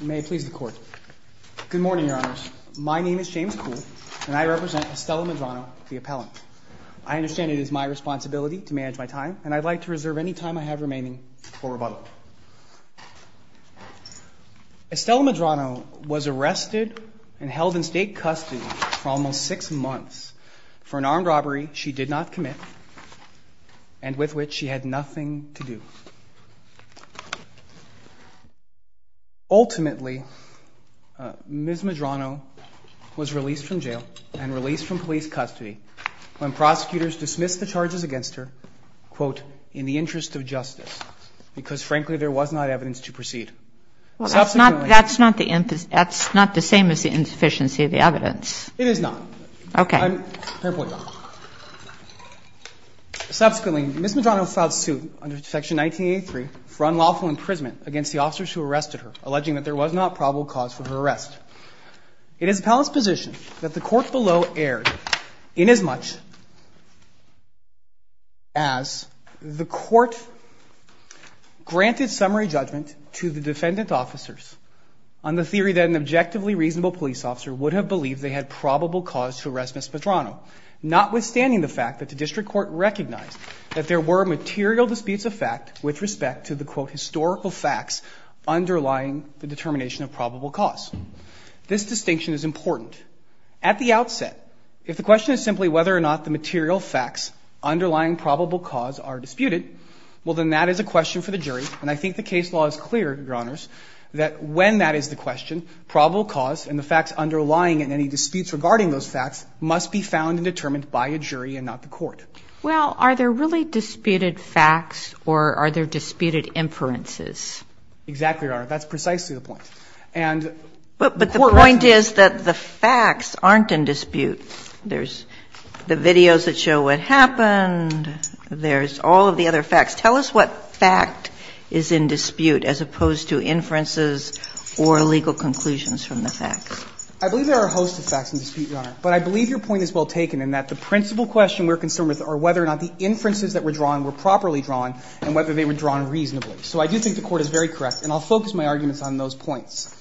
May it please the court. Good morning, Your Honors. My name is James Kuhl, and I represent Estella Medrano, the appellant. I understand it is my responsibility to manage my time, and I'd like to reserve any time I have remaining for rebuttal. Estella Medrano was arrested and held in state custody for almost six months for an armed robbery she did not commit, and with which she had nothing to do. Ultimately, Ms. Medrano was released from jail and released from police custody when prosecutors dismissed the charges against her, quote, in the interest of justice, because frankly there was not evidence to proceed. That's not the same as the insufficiency of the evidence. It is not. Okay. Fair point, Your Honor. Subsequently, Ms. Medrano filed suit under Section 1983 for unlawful imprisonment against the officers who arrested her, alleging that there was not probable cause for her arrest. It is the palace's position that the court below erred inasmuch as the court granted summary judgment to the defendant's officers on the theory that an objectively reasonable police officer would have believed they had probable cause to arrest Ms. Medrano, notwithstanding the fact that the district court recognized that there were material disputes of fact with respect to the, quote, historical facts underlying the determination of probable cause. This distinction is important. At the outset, if the question is simply whether or not the material facts underlying probable cause are disputed, well, then that is a question for the jury. And I think the case law is clear, Your Honors, that when that is the question, probable cause and the facts underlying it and any disputes regarding those facts must be found and determined by a jury and not the court. Well, are there really disputed facts or are there disputed inferences? Exactly, Your Honor. That's precisely the point. But the point is that the facts aren't in dispute. There's the videos that show what happened. There's all of the other facts. Tell us what fact is in dispute as opposed to inferences or legal conclusions from the facts. I believe there are a host of facts in dispute, Your Honor. But I believe your point is well taken in that the principal question we're concerned with are whether or not the inferences that were drawn were properly drawn and whether they were drawn reasonably. So I do think the Court is very correct. And I'll focus my arguments on those points.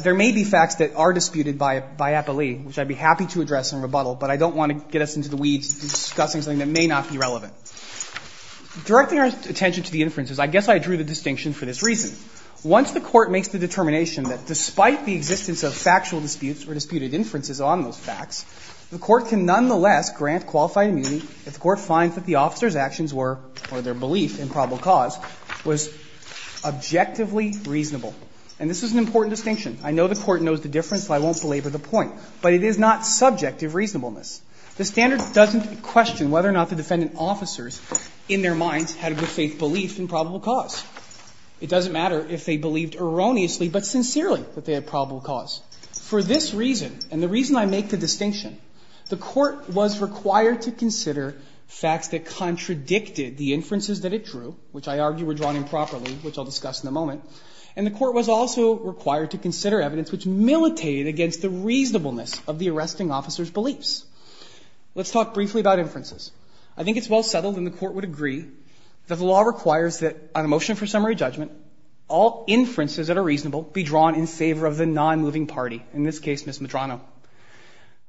There may be facts that are disputed by appellee, which I'd be happy to address in rebuttal, but I don't want to get us into the weeds discussing something that may not be relevant. Directing our attention to the inferences, I guess I drew the distinction for this reason. Once the Court makes the determination that despite the existence of factual disputes or disputed inferences on those facts, the Court can nonetheless grant qualified immunity if the Court finds that the officer's actions were, or their belief in probable cause, was objectively reasonable. And this is an important distinction. I know the Court knows the difference, so I won't belabor the point. But it is not subjective reasonableness. The standard doesn't question whether or not the defendant officers in their minds had a good faith belief in probable cause. It doesn't matter if they believed erroneously but sincerely that they had probable cause. For this reason, and the reason I make the distinction, the Court was required to consider facts that contradicted the inferences that it drew, which I argue were drawn improperly, which I'll discuss in a moment. And the Court was also required to consider evidence which militated against the reasonableness of the arresting officer's beliefs. Let's talk briefly about inferences. I think it's well settled and the Court would agree that the law requires that on a motion for summary judgment, all inferences that are reasonable be drawn in favor of the non-moving party, in this case, Ms. Medrano.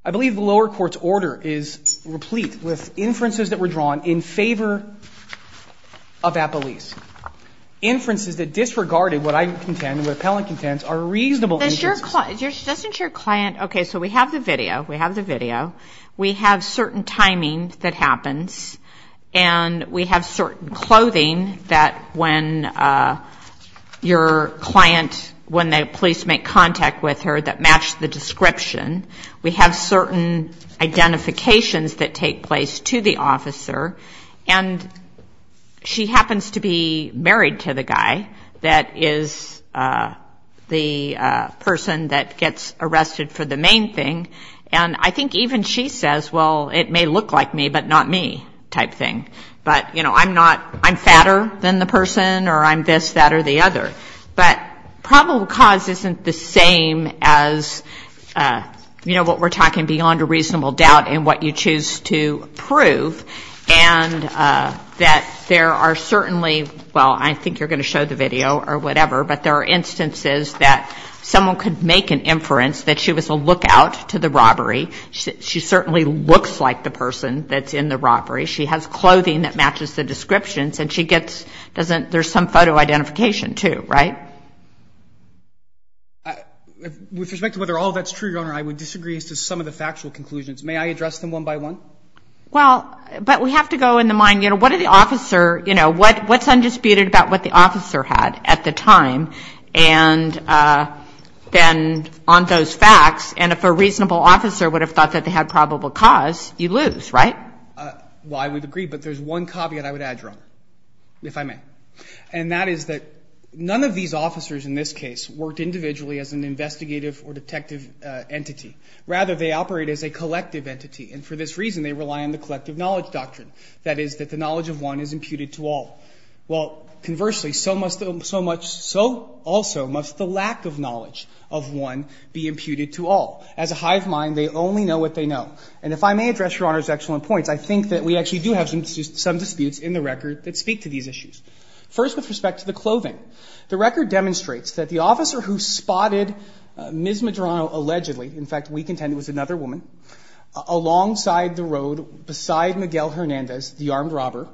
I believe the lower court's order is replete with inferences that were drawn in favor of Appelese, inferences that disregarded what I contend, what the appellant contends, are reasonable inferences. Doesn't your client, okay, so we have the video. We have the video. We have certain timing that happens and we have certain clothing that when your client, when the police make contact with her, that match the description. We have certain identifications that take place to the officer and she happens to be married to the guy that is the person that gets arrested for the main thing. And I think even she says, well, it may look like me but not me type thing. But, you know, I'm not, I'm fatter than the person or I'm this, that or the other. But probable cause isn't the same as, you know, what we're talking beyond a reasonable doubt in what you choose to prove and that there are certainly, well, I think you're going to show the video or whatever, but there are instances that someone could make an inference that she was a lookout to the robbery. She certainly looks like the person that's in the robbery. She has clothing that matches the descriptions and she gets, doesn't, there's some photo identification too, right? With respect to whether all of that's true, Your Honor, I would disagree as to some of the factual conclusions. May I address them one by one? Well, but we have to go in the mind, you know, what are the officer, you know, what's undisputed about what the officer had at the time and then on those facts and if a reasonable officer would have thought that they had probable cause, you lose, right? Well, I would agree, but there's one caveat I would add, Your Honor, if I may. And that is that none of these officers in this case worked individually as an investigative or detective entity. Rather, they operate as a collective entity. And for this reason, they rely on the collective knowledge doctrine. That is, that the knowledge of one is imputed to all. Well, conversely, so much, so also must the lack of knowledge of one be imputed to all. As a hive mind, they only know what they know. And if I may address, Your Honor's excellent points, I think that we actually do have some disputes in the record that speak to these issues. First, with respect to the clothing. The record demonstrates that the officer who spotted Ms. Medrano allegedly, in fact, we contend it was another woman, alongside the road beside Miguel Hernandez, the armed robber,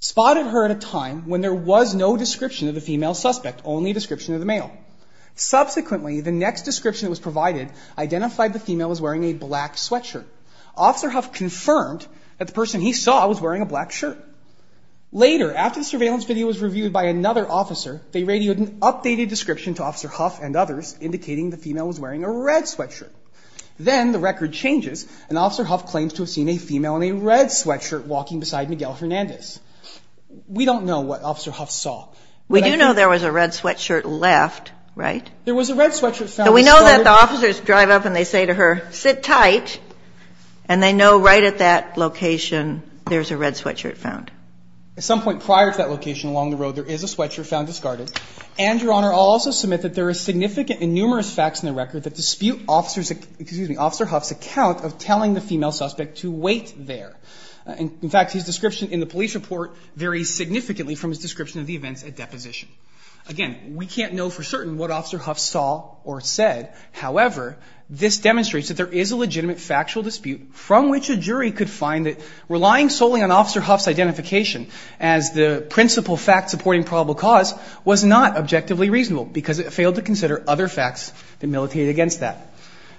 spotted her at a time when there was no description of the female suspect, only a description of the male. Subsequently, the next description that was provided identified the female as wearing a black sweatshirt. Officer Huff confirmed that the person he saw was wearing a black shirt. Later, after the surveillance video was reviewed by another officer, they radioed an updated description to Officer Huff and others indicating the female was wearing a red sweatshirt. Then, the record changes, and Officer Huff claims to have seen a female in a red sweatshirt walking beside Miguel Hernandez. We don't know what Officer Huff saw. We do know there was a red sweatshirt left, right? There was a red sweatshirt found. So we know that the officers drive up and they say to her, sit tight, and they know right at that location there's a red sweatshirt found. At some point prior to that location along the road, there is a sweatshirt found discarded. And, Your Honor, I'll also submit that there are significant and numerous facts in the record that dispute Officer's, excuse me, Officer Huff's account of telling the female suspect to wait there. In fact, his description in the police report varies significantly from his description of the events at deposition. Again, we can't know for certain what Officer Huff saw or said. However, this demonstrates that there is a legitimate factual dispute from which a jury could find that relying solely on Officer Huff's identification as the principal fact-supporting probable cause was not objectively reasonable because it failed to consider other facts that militated against that.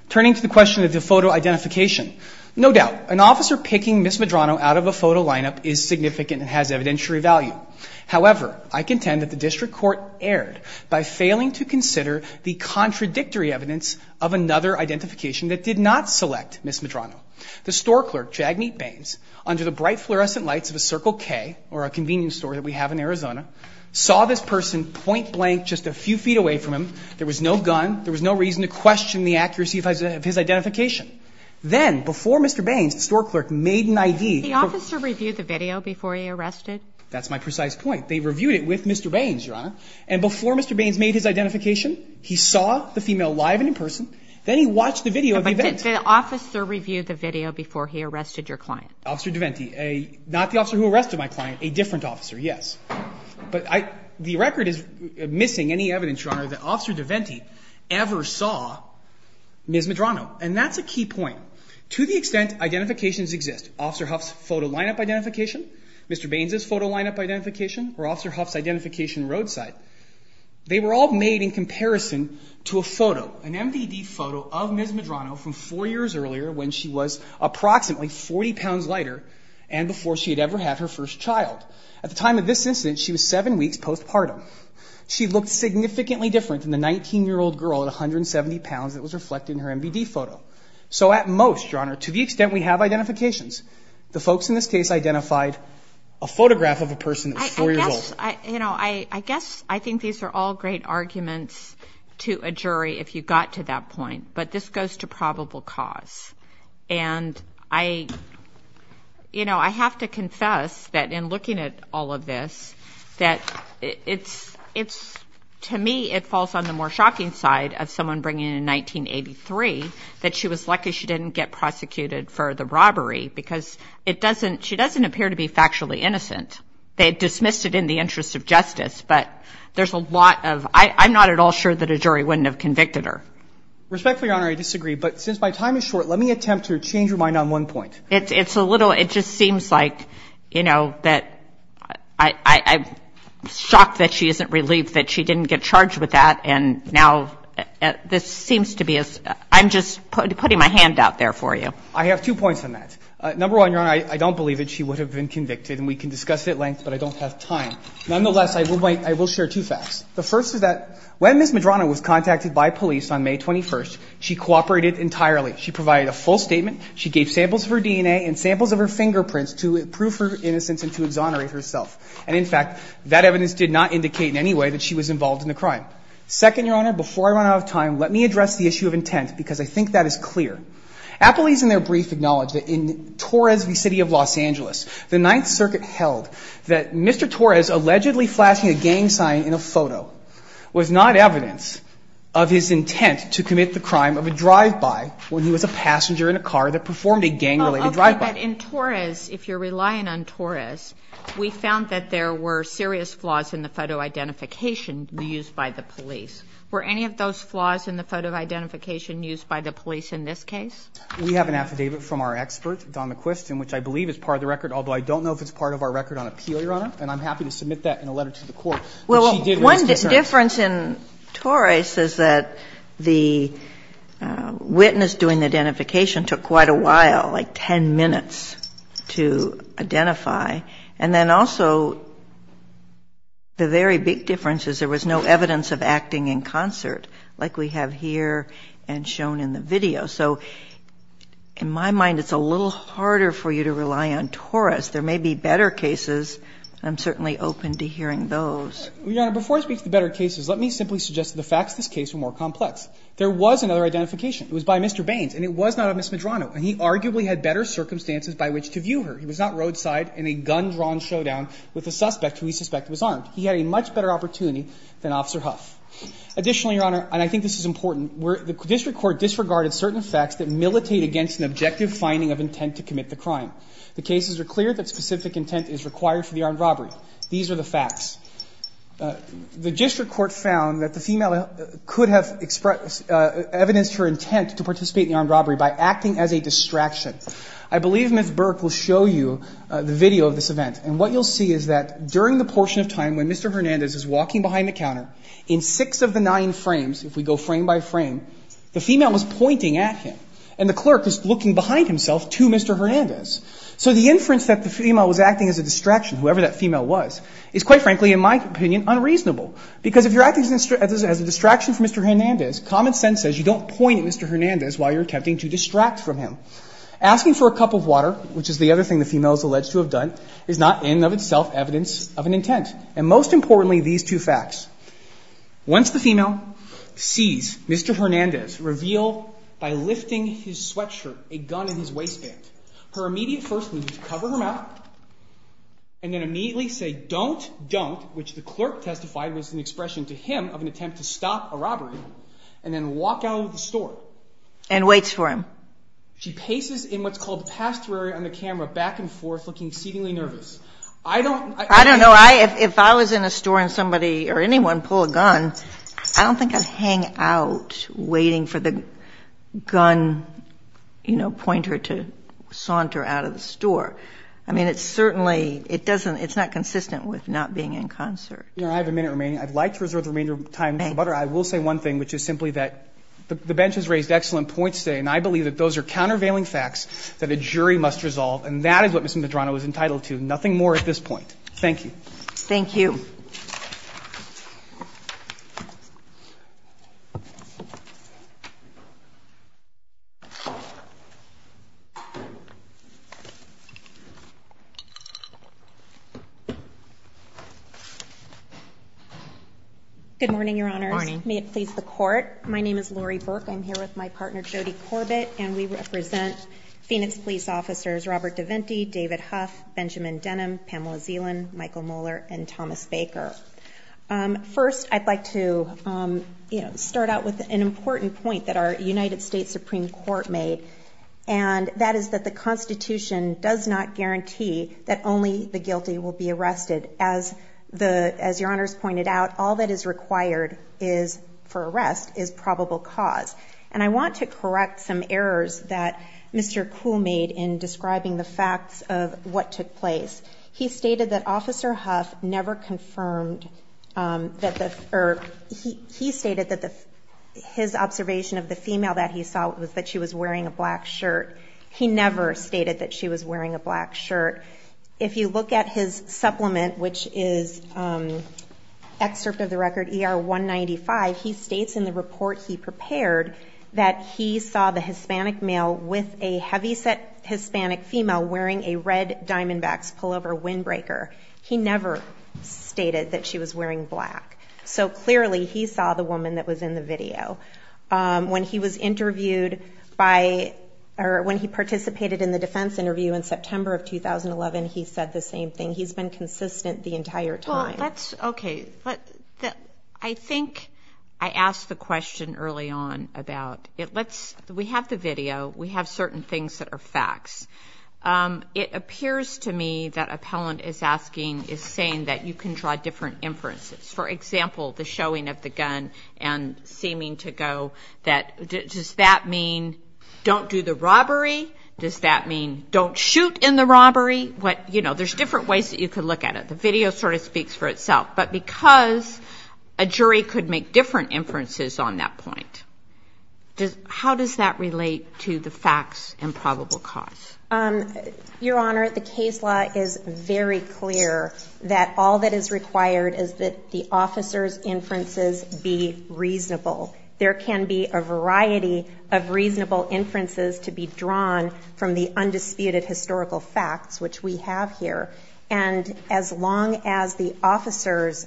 Turning to the question of the photo identification, no doubt an officer picking Ms. Medrano out of a photo lineup is significant and has evidentiary value. However, I contend that the district court erred by failing to consider the contradictory evidence of another identification that did not select Ms. Medrano. The store clerk, Jagmeet Bains, under the bright fluorescent lights of a Circle K or a convenience store that we have in Arizona, saw this person point-blank just a few feet away from him. There was no gun. There was no reason to question the accuracy of his identification. Then, before Mr. Bains, the store clerk made an I.D. Did the officer review the video before he arrested? That's my precise point. They reviewed it with Mr. Bains, Your Honor. And before Mr. Bains made his identification, he saw the female live and in person. Then he watched the video of the event. But did the officer review the video before he arrested your client? Officer DeVenti. Not the officer who arrested my client. A different officer, yes. But the record is missing any evidence, Your Honor, that Officer DeVenti ever saw Ms. Medrano. And that's a key point. To the extent identifications exist, Officer Huff's photo lineup identification, Mr. Bains's photo lineup identification, or Officer Huff's identification roadside, they were all made in comparison to a photo, an MDD photo of Ms. Medrano from four years earlier when she was approximately 40 pounds lighter and before she had ever had her first child. At the time of this incident, she was seven weeks postpartum. She looked significantly different than the 19-year-old girl at 170 pounds that was reflected in her MDD photo. So at most, Your Honor, to the extent we have identifications, the folks in this case identified a photograph of a person that was four years old. I guess, you know, I guess I think these are all great arguments to a jury if you got to that point. But this goes to probable cause. And I, you know, I have to confess that in looking at all of this, that it's, to me, it falls on the more shocking side of someone bringing in 1983 that she was lucky she didn't get prosecuted for the robbery because it doesn't, she doesn't appear to be factually innocent. They dismissed it in the interest of justice. But there's a lot of, I'm not at all sure that a jury wouldn't have convicted her. Respectfully, Your Honor, I disagree. But since my time is short, let me attempt to change your mind on one point. It's a little, it just seems like, you know, that I'm shocked that she isn't relieved that she didn't get charged with that. And now this seems to be, I'm just putting my hand out there for you. I have two points on that. Number one, Your Honor, I don't believe that she would have been convicted. And we can discuss it at length, but I don't have time. Nonetheless, I will share two facts. The first is that when Ms. Medrano was contacted by police on May 21st, she cooperated entirely. She provided a full statement. She gave samples of her DNA and samples of her fingerprints to prove her innocence and to exonerate herself. And in fact, that evidence did not indicate in any way that she was involved in the crime. Second, Your Honor, before I run out of time, let me address the issue of intent because I think that is clear. Appleby's in their brief acknowledged that in Torres v. City of Los Angeles, the Ninth Circuit held that Mr. Torres allegedly flashing a gang sign in a photo was not evidence of his intent to commit the crime of a drive-by when he was a passenger in a car that performed a gang-related drive-by. But in Torres, if you're relying on Torres, we found that there were serious flaws in the photo identification used by the police. Were any of those flaws in the photo identification used by the police in this case? We have an affidavit from our expert, Donna Quist, in which I believe is part of the record, although I don't know if it's part of our record on appeal, Your Honor. And I'm happy to submit that in a letter to the court. But she did raise concerns. Well, one difference in Torres is that the witness doing the identification took quite a while, like 10 minutes to identify. And then also the very big difference is there was no evidence of acting in concert like we have here and shown in the video. So in my mind, it's a little harder for you to rely on Torres. There may be better cases. I'm certainly open to hearing those. Your Honor, before I speak to the better cases, let me simply suggest that the facts of this case were more complex. There was another identification. It was by Mr. Baines, and it was not of Ms. Medrano. And he arguably had better circumstances by which to view her. He was not roadside in a gun-drawn showdown with a suspect who he suspected was armed. He had a much better opportunity than Officer Huff. Additionally, Your Honor, and I think this is important, the district court disregarded certain facts that militate against an objective finding of intent to commit the crime. The cases are clear that specific intent is required for the armed robbery. These are the facts. The district court found that the female could have expressed evidence for intent to participate in the armed robbery by acting as a distraction. I believe Ms. Burke will show you the video of this event. And what you'll see is that during the portion of time when Mr. Hernandez is walking behind the counter, in six of the nine frames, if we go frame by frame, the female was pointing at him. And the clerk was looking behind himself to Mr. Hernandez. So the inference that the female was acting as a distraction, whoever that female was, is quite frankly, in my opinion, unreasonable. Because if you're acting as a distraction for Mr. Hernandez, common sense says you don't point at Mr. Hernandez while you're attempting to distract from him. Asking for a cup of water, which is the other thing the female is alleged to have done, is not in and of itself evidence of an intent. And most importantly, these two facts. Once the female sees Mr. Hernandez reveal, by lifting his sweatshirt, a gun in his waistband, her immediate first move is to cover him up and then immediately say, don't, don't, which the clerk testified was an expression to him of an attempt to stop a robbery, and then walk out of the store. And waits for him. She paces in what's called the pastor area on the camera, back and forth, looking exceedingly nervous. I don't, I mean. I don't know. If I was in a store and somebody or anyone pulled a gun, I don't think I'd hang out waiting for the gun, you know, pointer to saunter out of the store. I mean, it's certainly, it doesn't, it's not consistent with not being in concert. Your Honor, I have a minute remaining. I'd like to reserve the remainder of time. Thank you. But I will say one thing, which is simply that the bench has raised excellent points today. And I believe that those are countervailing facts that a jury must resolve. And that is what Ms. Medrano is entitled to. Nothing more at this point. Thank you. Thank you. Good morning, Your Honors. May it please the Court. My name is Lori Burke. I'm here with my partner, Jody Corbett. And we represent Phoenix police officers, Robert DeVenti, David Huff, Benjamin Denham, Pamela Zeland, Michael Moeller, and Thomas Baker. First, I'd like to, you know, start out with an important point that our United States Supreme Court made. And that is that the Constitution does not guarantee that only the guilty will be arrested. As the, as Your Honors pointed out, all that is required is, for arrest, is probable cause. And I want to correct some errors that Mr. Kuhl made in describing the facts of what took place. He stated that Officer Huff never confirmed that the, or he stated that the, his observation of the female that he saw was that she was wearing a black shirt. He never stated that she was wearing a black shirt. If you look at his supplement, which is excerpt of the record ER-195, he states in the report he prepared that he saw the Hispanic male with a heavyset Hispanic female wearing a red Diamondbacks pullover windbreaker. He never stated that she was wearing black. So clearly he saw the woman that was in the video. When he was interviewed by, or when he participated in the defense interview in September of 2011, he said the same thing. He's been consistent the entire time. Let's, okay. I think I asked the question early on about, let's, we have the video. We have certain things that are facts. It appears to me that Appellant is asking, is saying that you can draw different inferences. For example, the showing of the gun and seeming to go that, does that mean don't do the robbery? Does that mean don't shoot in the robbery? You know, there's different ways that you could look at it. The video sort of speaks for itself. But because a jury could make different inferences on that point, how does that relate to the facts and probable cause? Your Honor, the case law is very clear that all that is required is that the officer's inferences be reasonable. There can be a variety of reasonable inferences to be drawn from the undisputed historical facts, which we have here. And as long as the officer's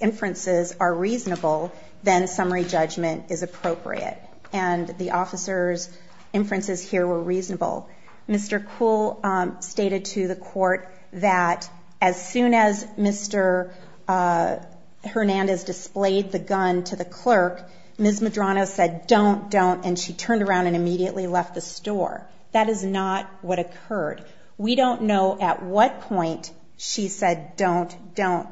inferences are reasonable, then summary judgment is appropriate. And the officer's inferences here were reasonable. Mr. Kuhl stated to the court that as soon as Mr. Hernandez displayed the gun to the clerk, Ms. Medrano said, don't, don't. And she turned around and immediately left the store. That is not what occurred. We don't know at what point she said don't, don't,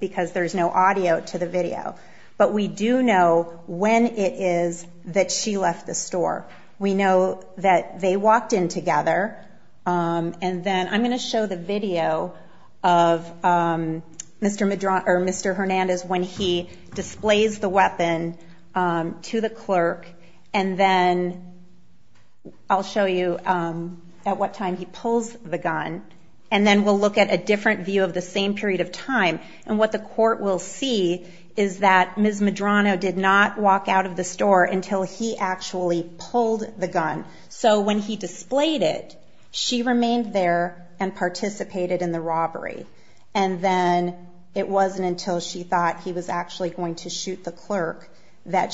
because there's no audio to the video. But we do know when it is that she left the store. We know that they walked in together. And then I'm going to show the video of Mr. Hernandez when he displays the weapon to the clerk. And then I'll show you at what time he pulls the gun. And then we'll look at a different view of the same period of time. And what the court will see is that Ms. Medrano did not walk out of the store until he actually pulled the gun. So when he displayed it, she remained there and participated in the robbery. And then it wasn't until she thought he was actually going to shoot the gun that,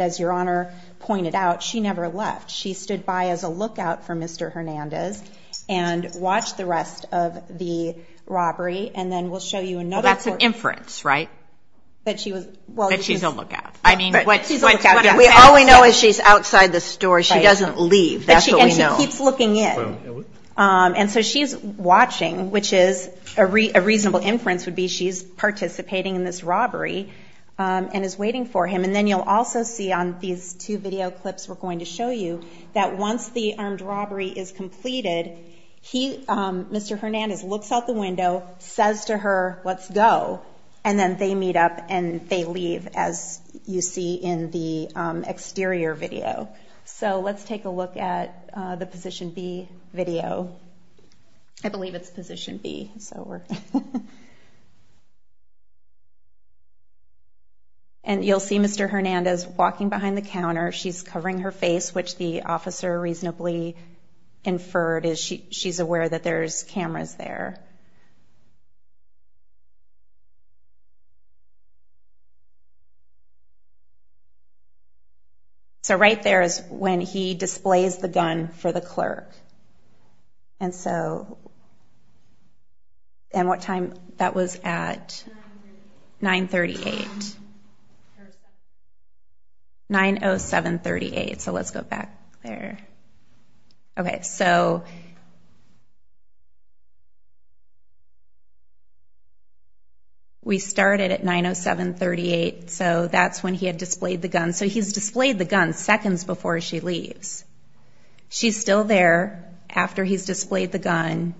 as Your Honor pointed out, she never left. She stood by as a lookout for Mr. Hernandez and watched the rest of the robbery. And then we'll show you another court. That's an inference, right? That she was, well. That she's a lookout. I mean. She's a lookout. All we know is she's outside the store. She doesn't leave. That's what we know. And she keeps looking in. And so she's watching, which is a reasonable inference would be she's participating in this robbery and is waiting for him. And then you'll also see on these two video clips we're going to show you that once the armed robbery is completed, Mr. Hernandez looks out the window, says to her, let's go. And then they meet up and they leave, as you see in the exterior video. So let's take a look at the Position B video. I believe it's Position B. It's over. And you'll see Mr. Hernandez walking behind the counter. She's covering her face, which the officer reasonably inferred is she's aware that there's cameras there. So right there is when he displays the gun for the clerk. And what time that was at? 938. 90738. So let's go back there. Okay, so we started at 90738. So that's when he had displayed the gun. So he's displayed the gun seconds before she leaves. She's still there after he's displayed the gun.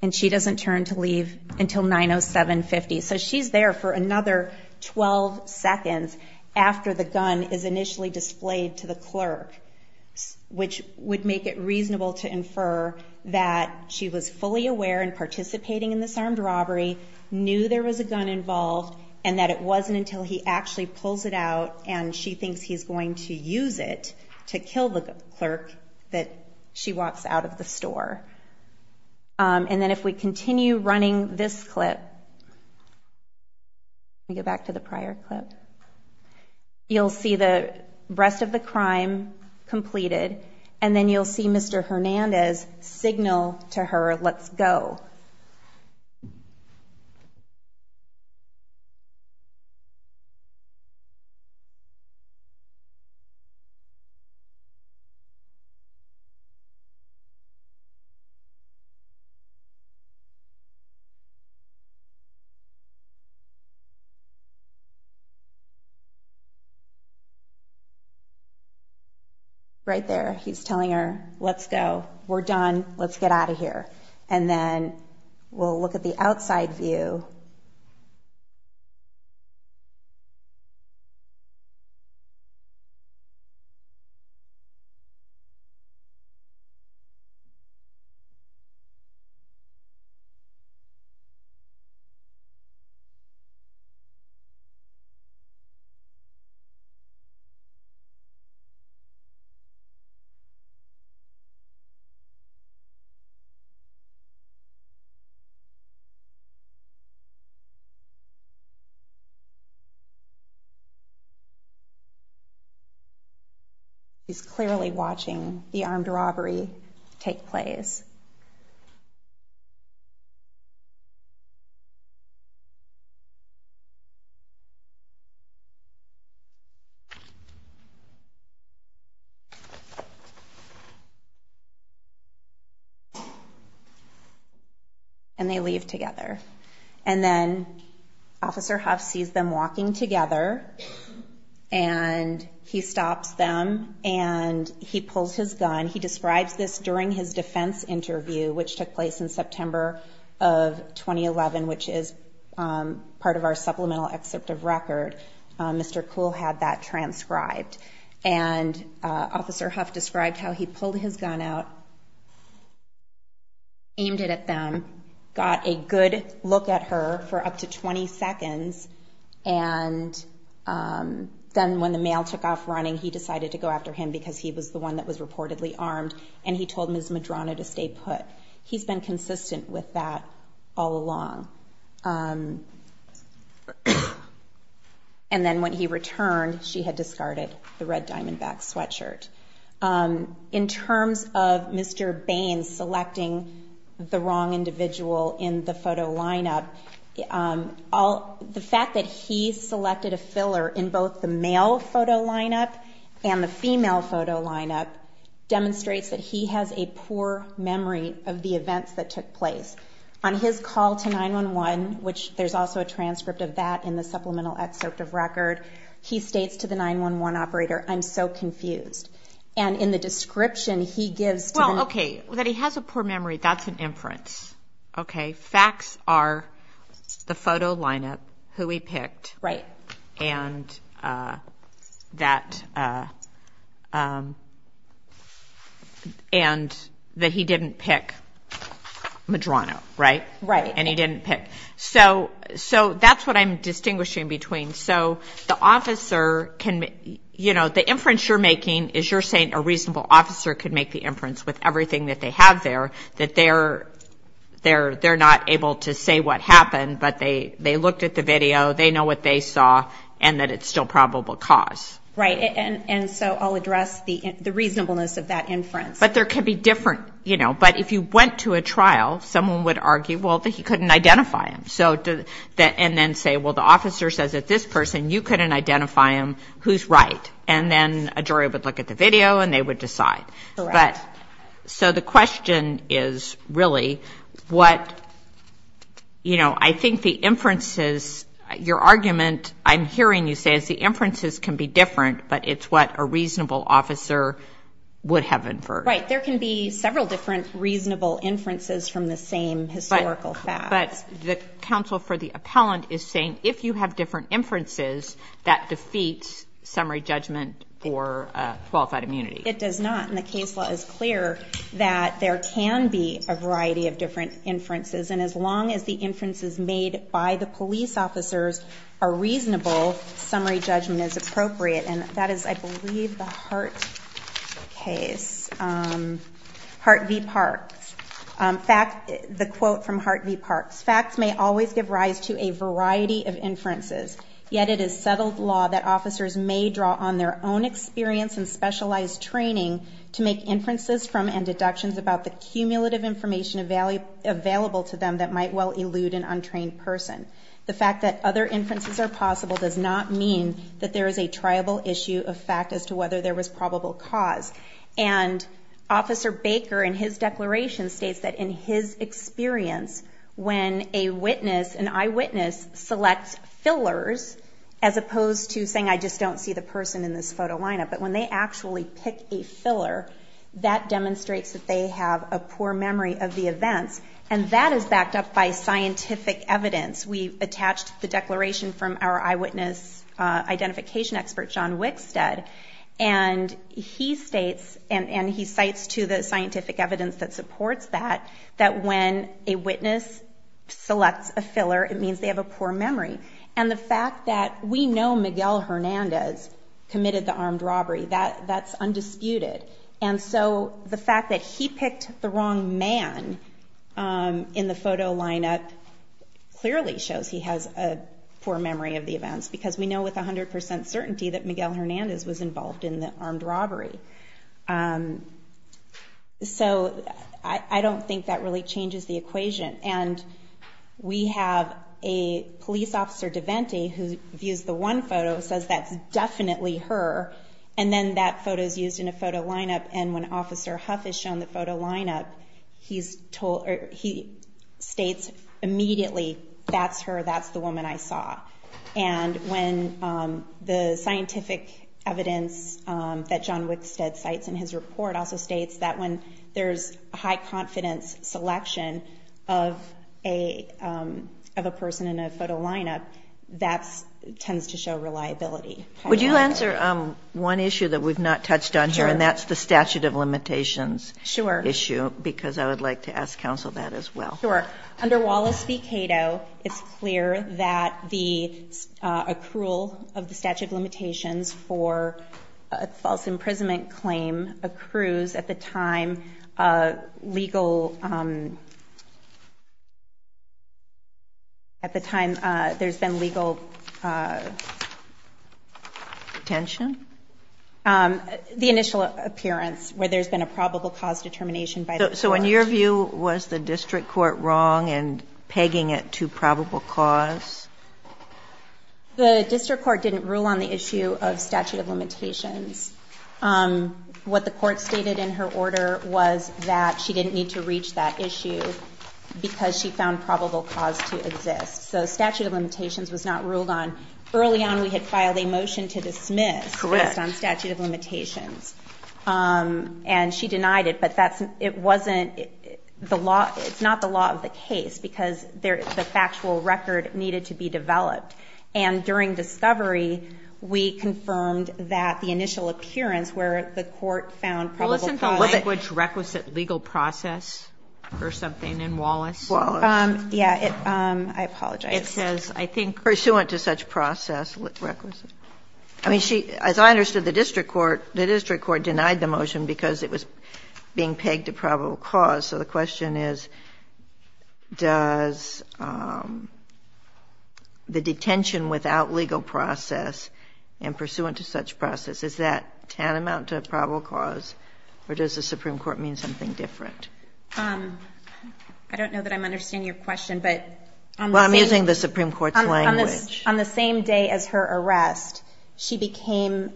And she doesn't turn to leave until 90750. So she's there for another 12 seconds after the gun is initially displayed to the clerk, which would make it reasonable to infer that she was fully aware and participating in this armed robbery, knew there was a gun involved, and that it wasn't until he actually pulls it out and she thinks he's going to use it to kill the clerk that she walks out of the store. And then if we continue running this clip, let me get back to the prior clip, you'll see the rest of the crime completed, and then you'll see Mr. Hernandez signal to her, let's go. Right there, he's telling her, let's go, we're done, let's get out of here. And then we'll look at the outside view. He's clearly watching the armed robbery take place. And they leave together. And then Officer Huff sees them walking together, and he stops them, and he pulls his gun. And he describes this during his defense interview, which took place in September of 2011, which is part of our supplemental excerpt of record. Mr. Kuhl had that transcribed. And Officer Huff described how he pulled his gun out, aimed it at them, got a good look at her for up to 20 seconds, and then when the mail took off running, he decided to go after him because he was the one that was reportedly armed, and he told Ms. Medrano to stay put. He's been consistent with that all along. And then when he returned, she had discarded the red diamondback sweatshirt. In terms of Mr. Baines selecting the wrong individual in the photo lineup, the fact that he selected a filler in both the male photo lineup and the female photo lineup demonstrates that he has a poor memory of the events that took place. On his call to 911, which there's also a transcript of that in the supplemental excerpt of record, he states to the 911 operator, I'm so confused. And in the description, he gives to them. Well, okay, that he has a poor memory, that's an inference. Okay, facts are the photo lineup, who he picked, and that he didn't pick Medrano, right? Right. And he didn't pick. So that's what I'm distinguishing between. So the inference you're making is you're saying a reasonable officer could make the inference with everything that they have there, that they're not able to say what happened, but they looked at the video, they know what they saw, and that it's still probable cause. Right, and so I'll address the reasonableness of that inference. But there could be different, you know, but if you went to a trial, someone would argue, well, that he couldn't identify him, and then say, well, the officer says that this person, you couldn't identify him, who's right? And then a jury would look at the video, and they would decide. Correct. So the question is really what, you know, I think the inferences, your argument I'm hearing you say is the inferences can be different, but it's what a reasonable officer would have inferred. Right, there can be several different reasonable inferences from the same historical facts. But the counsel for the appellant is saying if you have different inferences, that defeats summary judgment for qualified immunity. It does not. And the case law is clear that there can be a variety of different inferences. And as long as the inferences made by the police officers are reasonable, summary judgment is appropriate. And that is, I believe, the Hart case, Hart v. Parks. The quote from Hart v. Parks, facts may always give rise to a variety of inferences, yet it is settled law that officers may draw on their own experience and specialized training to make inferences from and deductions about the cumulative information available to them that might well elude an untrained person. The fact that other inferences are possible does not mean that there is a triable issue of fact as to whether there was probable cause. And Officer Baker in his declaration states that in his experience, when a witness, an eyewitness, selects fillers, as opposed to saying I just don't see the person in this photo lineup, but when they actually pick a filler, that demonstrates that they have a poor memory of the events. And that is backed up by scientific evidence. We attached the declaration from our eyewitness identification expert, John Wickstead, and he states, and he cites to the scientific evidence that supports that, that when a witness selects a filler, it means they have a poor memory. And the fact that we know Miguel Hernandez committed the armed robbery, that's undisputed. And so the fact that he picked the wrong man in the photo lineup clearly shows he has a poor memory of the events because we know with 100% certainty that Miguel Hernandez was involved in the armed robbery. So I don't think that really changes the equation. And we have a police officer, DeVenti, who views the one photo, says that's definitely her, and then that photo is used in a photo lineup, and when Officer Huff is shown the photo lineup, he states immediately that's her, that's the woman I saw. And when the scientific evidence that John Wickstead cites in his report also states that when there's high confidence selection of a person in a photo lineup, that tends to show reliability. Would you answer one issue that we've not touched on here, and that's the statute of limitations issue, because I would like to ask counsel that as well. Sure. Under Wallace v. Cato, it's clear that the accrual of the statute of limitations for a false imprisonment claim accrues at the time legal at the time there's been legal. Tension? The initial appearance where there's been a probable cause determination by the court. So in your view, was the district court wrong in pegging it to probable cause? The district court didn't rule on the issue of statute of limitations. What the court stated in her order was that she didn't need to reach that issue because she found probable cause to exist. So statute of limitations was not ruled on. Early on we had filed a motion to dismiss based on statute of limitations, and she denied it, but it's not the law of the case because the factual record needed to be developed. And during discovery, we confirmed that the initial appearance where the court found probable cause. Well, isn't the language requisite legal process or something in Wallace? Yeah. I apologize. It says, I think, pursuant to such process requisite. I mean, as I understood, the district court denied the motion because it was being pegged to probable cause. So the question is, does the detention without legal process and pursuant to such process, is that tantamount to a probable cause, or does the Supreme Court mean something different? I don't know that I'm understanding your question. Well, I'm using the Supreme Court's language. On the same day as her arrest, she became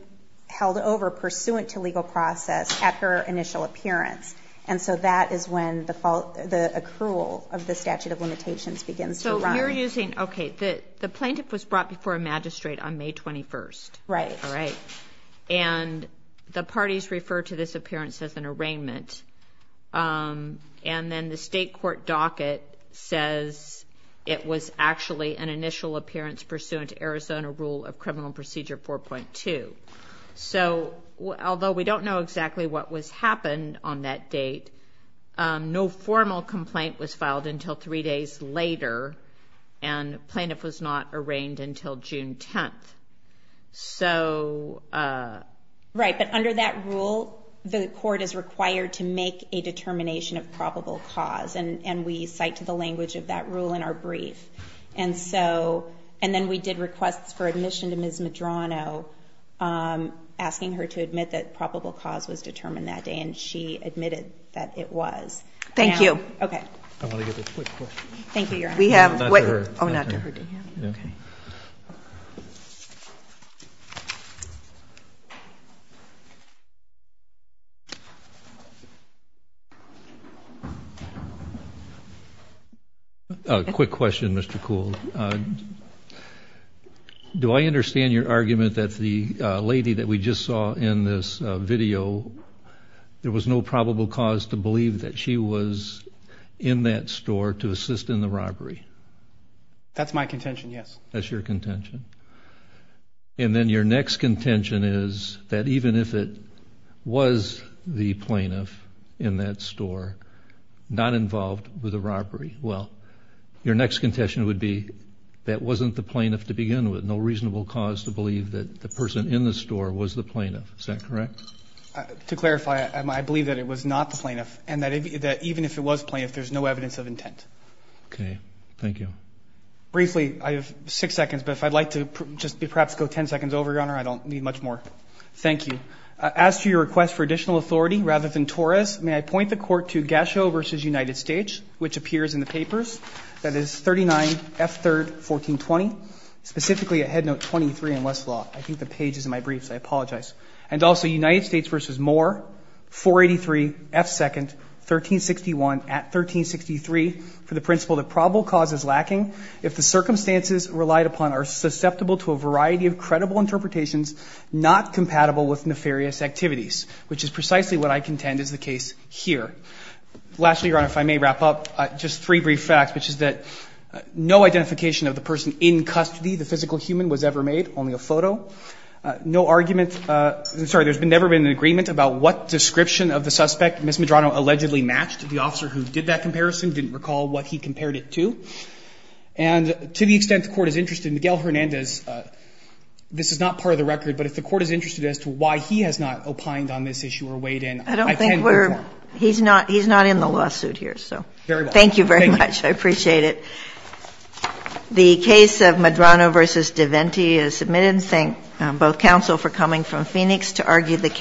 held over pursuant to legal process at her initial appearance. And so that is when the accrual of the statute of limitations begins to run. So you're using, okay, the plaintiff was brought before a magistrate on May 21st. Right. All right. And the parties refer to this appearance as an arraignment. And then the state court docket says it was actually an initial appearance pursuant to Arizona rule of criminal procedure 4.2. So although we don't know exactly what happened on that date, no formal complaint was filed until three days later, and the plaintiff was not arraigned until June 10th. Right. But under that rule, the court is required to make a determination of probable cause, and we cite to the language of that rule in our brief. And then we did requests for admission to Ms. Medrano, asking her to admit that probable cause was determined that day, and she admitted that it was. Thank you. Okay. I want to get a quick question. Thank you, Your Honor. Not to her. Oh, not to her. Okay. A quick question, Mr. Coole. Do I understand your argument that the lady that we just saw in this video, there was no probable cause to believe that she was in that store to assist in the robbery? That's my contention, yes. Okay. That's your contention. And then your next contention is that even if it was the plaintiff in that store not involved with the robbery, well, your next contention would be that wasn't the plaintiff to begin with, no reasonable cause to believe that the person in the store was the plaintiff. Is that correct? To clarify, I believe that it was not the plaintiff, and that even if it was the plaintiff, there's no evidence of intent. Okay. Thank you. Briefly, I have six seconds, but if I'd like to just perhaps go ten seconds over, Your Honor, I don't need much more. Thank you. As to your request for additional authority, rather than Torres, may I point the court to Gasho v. United States, which appears in the papers? That is 39F3-1420, specifically at Head Note 23 in Westlaw. I think the page is in my briefs. I apologize. And also United States v. Moore, 483F2-1361 at 1363 for the principle that probable cause is lacking if the circumstances relied upon are susceptible to a variety of credible interpretations not compatible with nefarious activities, which is precisely what I contend is the case here. Lastly, Your Honor, if I may wrap up, just three brief facts, which is that no identification of the person in custody, the physical human, was ever made, only a photo. No argument – sorry, there's never been an agreement about what description of the suspect Ms. Medrano allegedly matched. The officer who did that comparison didn't recall what he compared it to. And to the extent the Court is interested, Miguel Hernandez, this is not part of the record, but if the Court is interested as to why he has not opined on this issue or weighed in, I tend to agree with that. I don't think we're – he's not in the lawsuit here. Very well. Thank you very much. Thank you. I appreciate it. The case of Medrano v. DeVenti is submitted. Thank both counsel for coming from Phoenix to argue the case.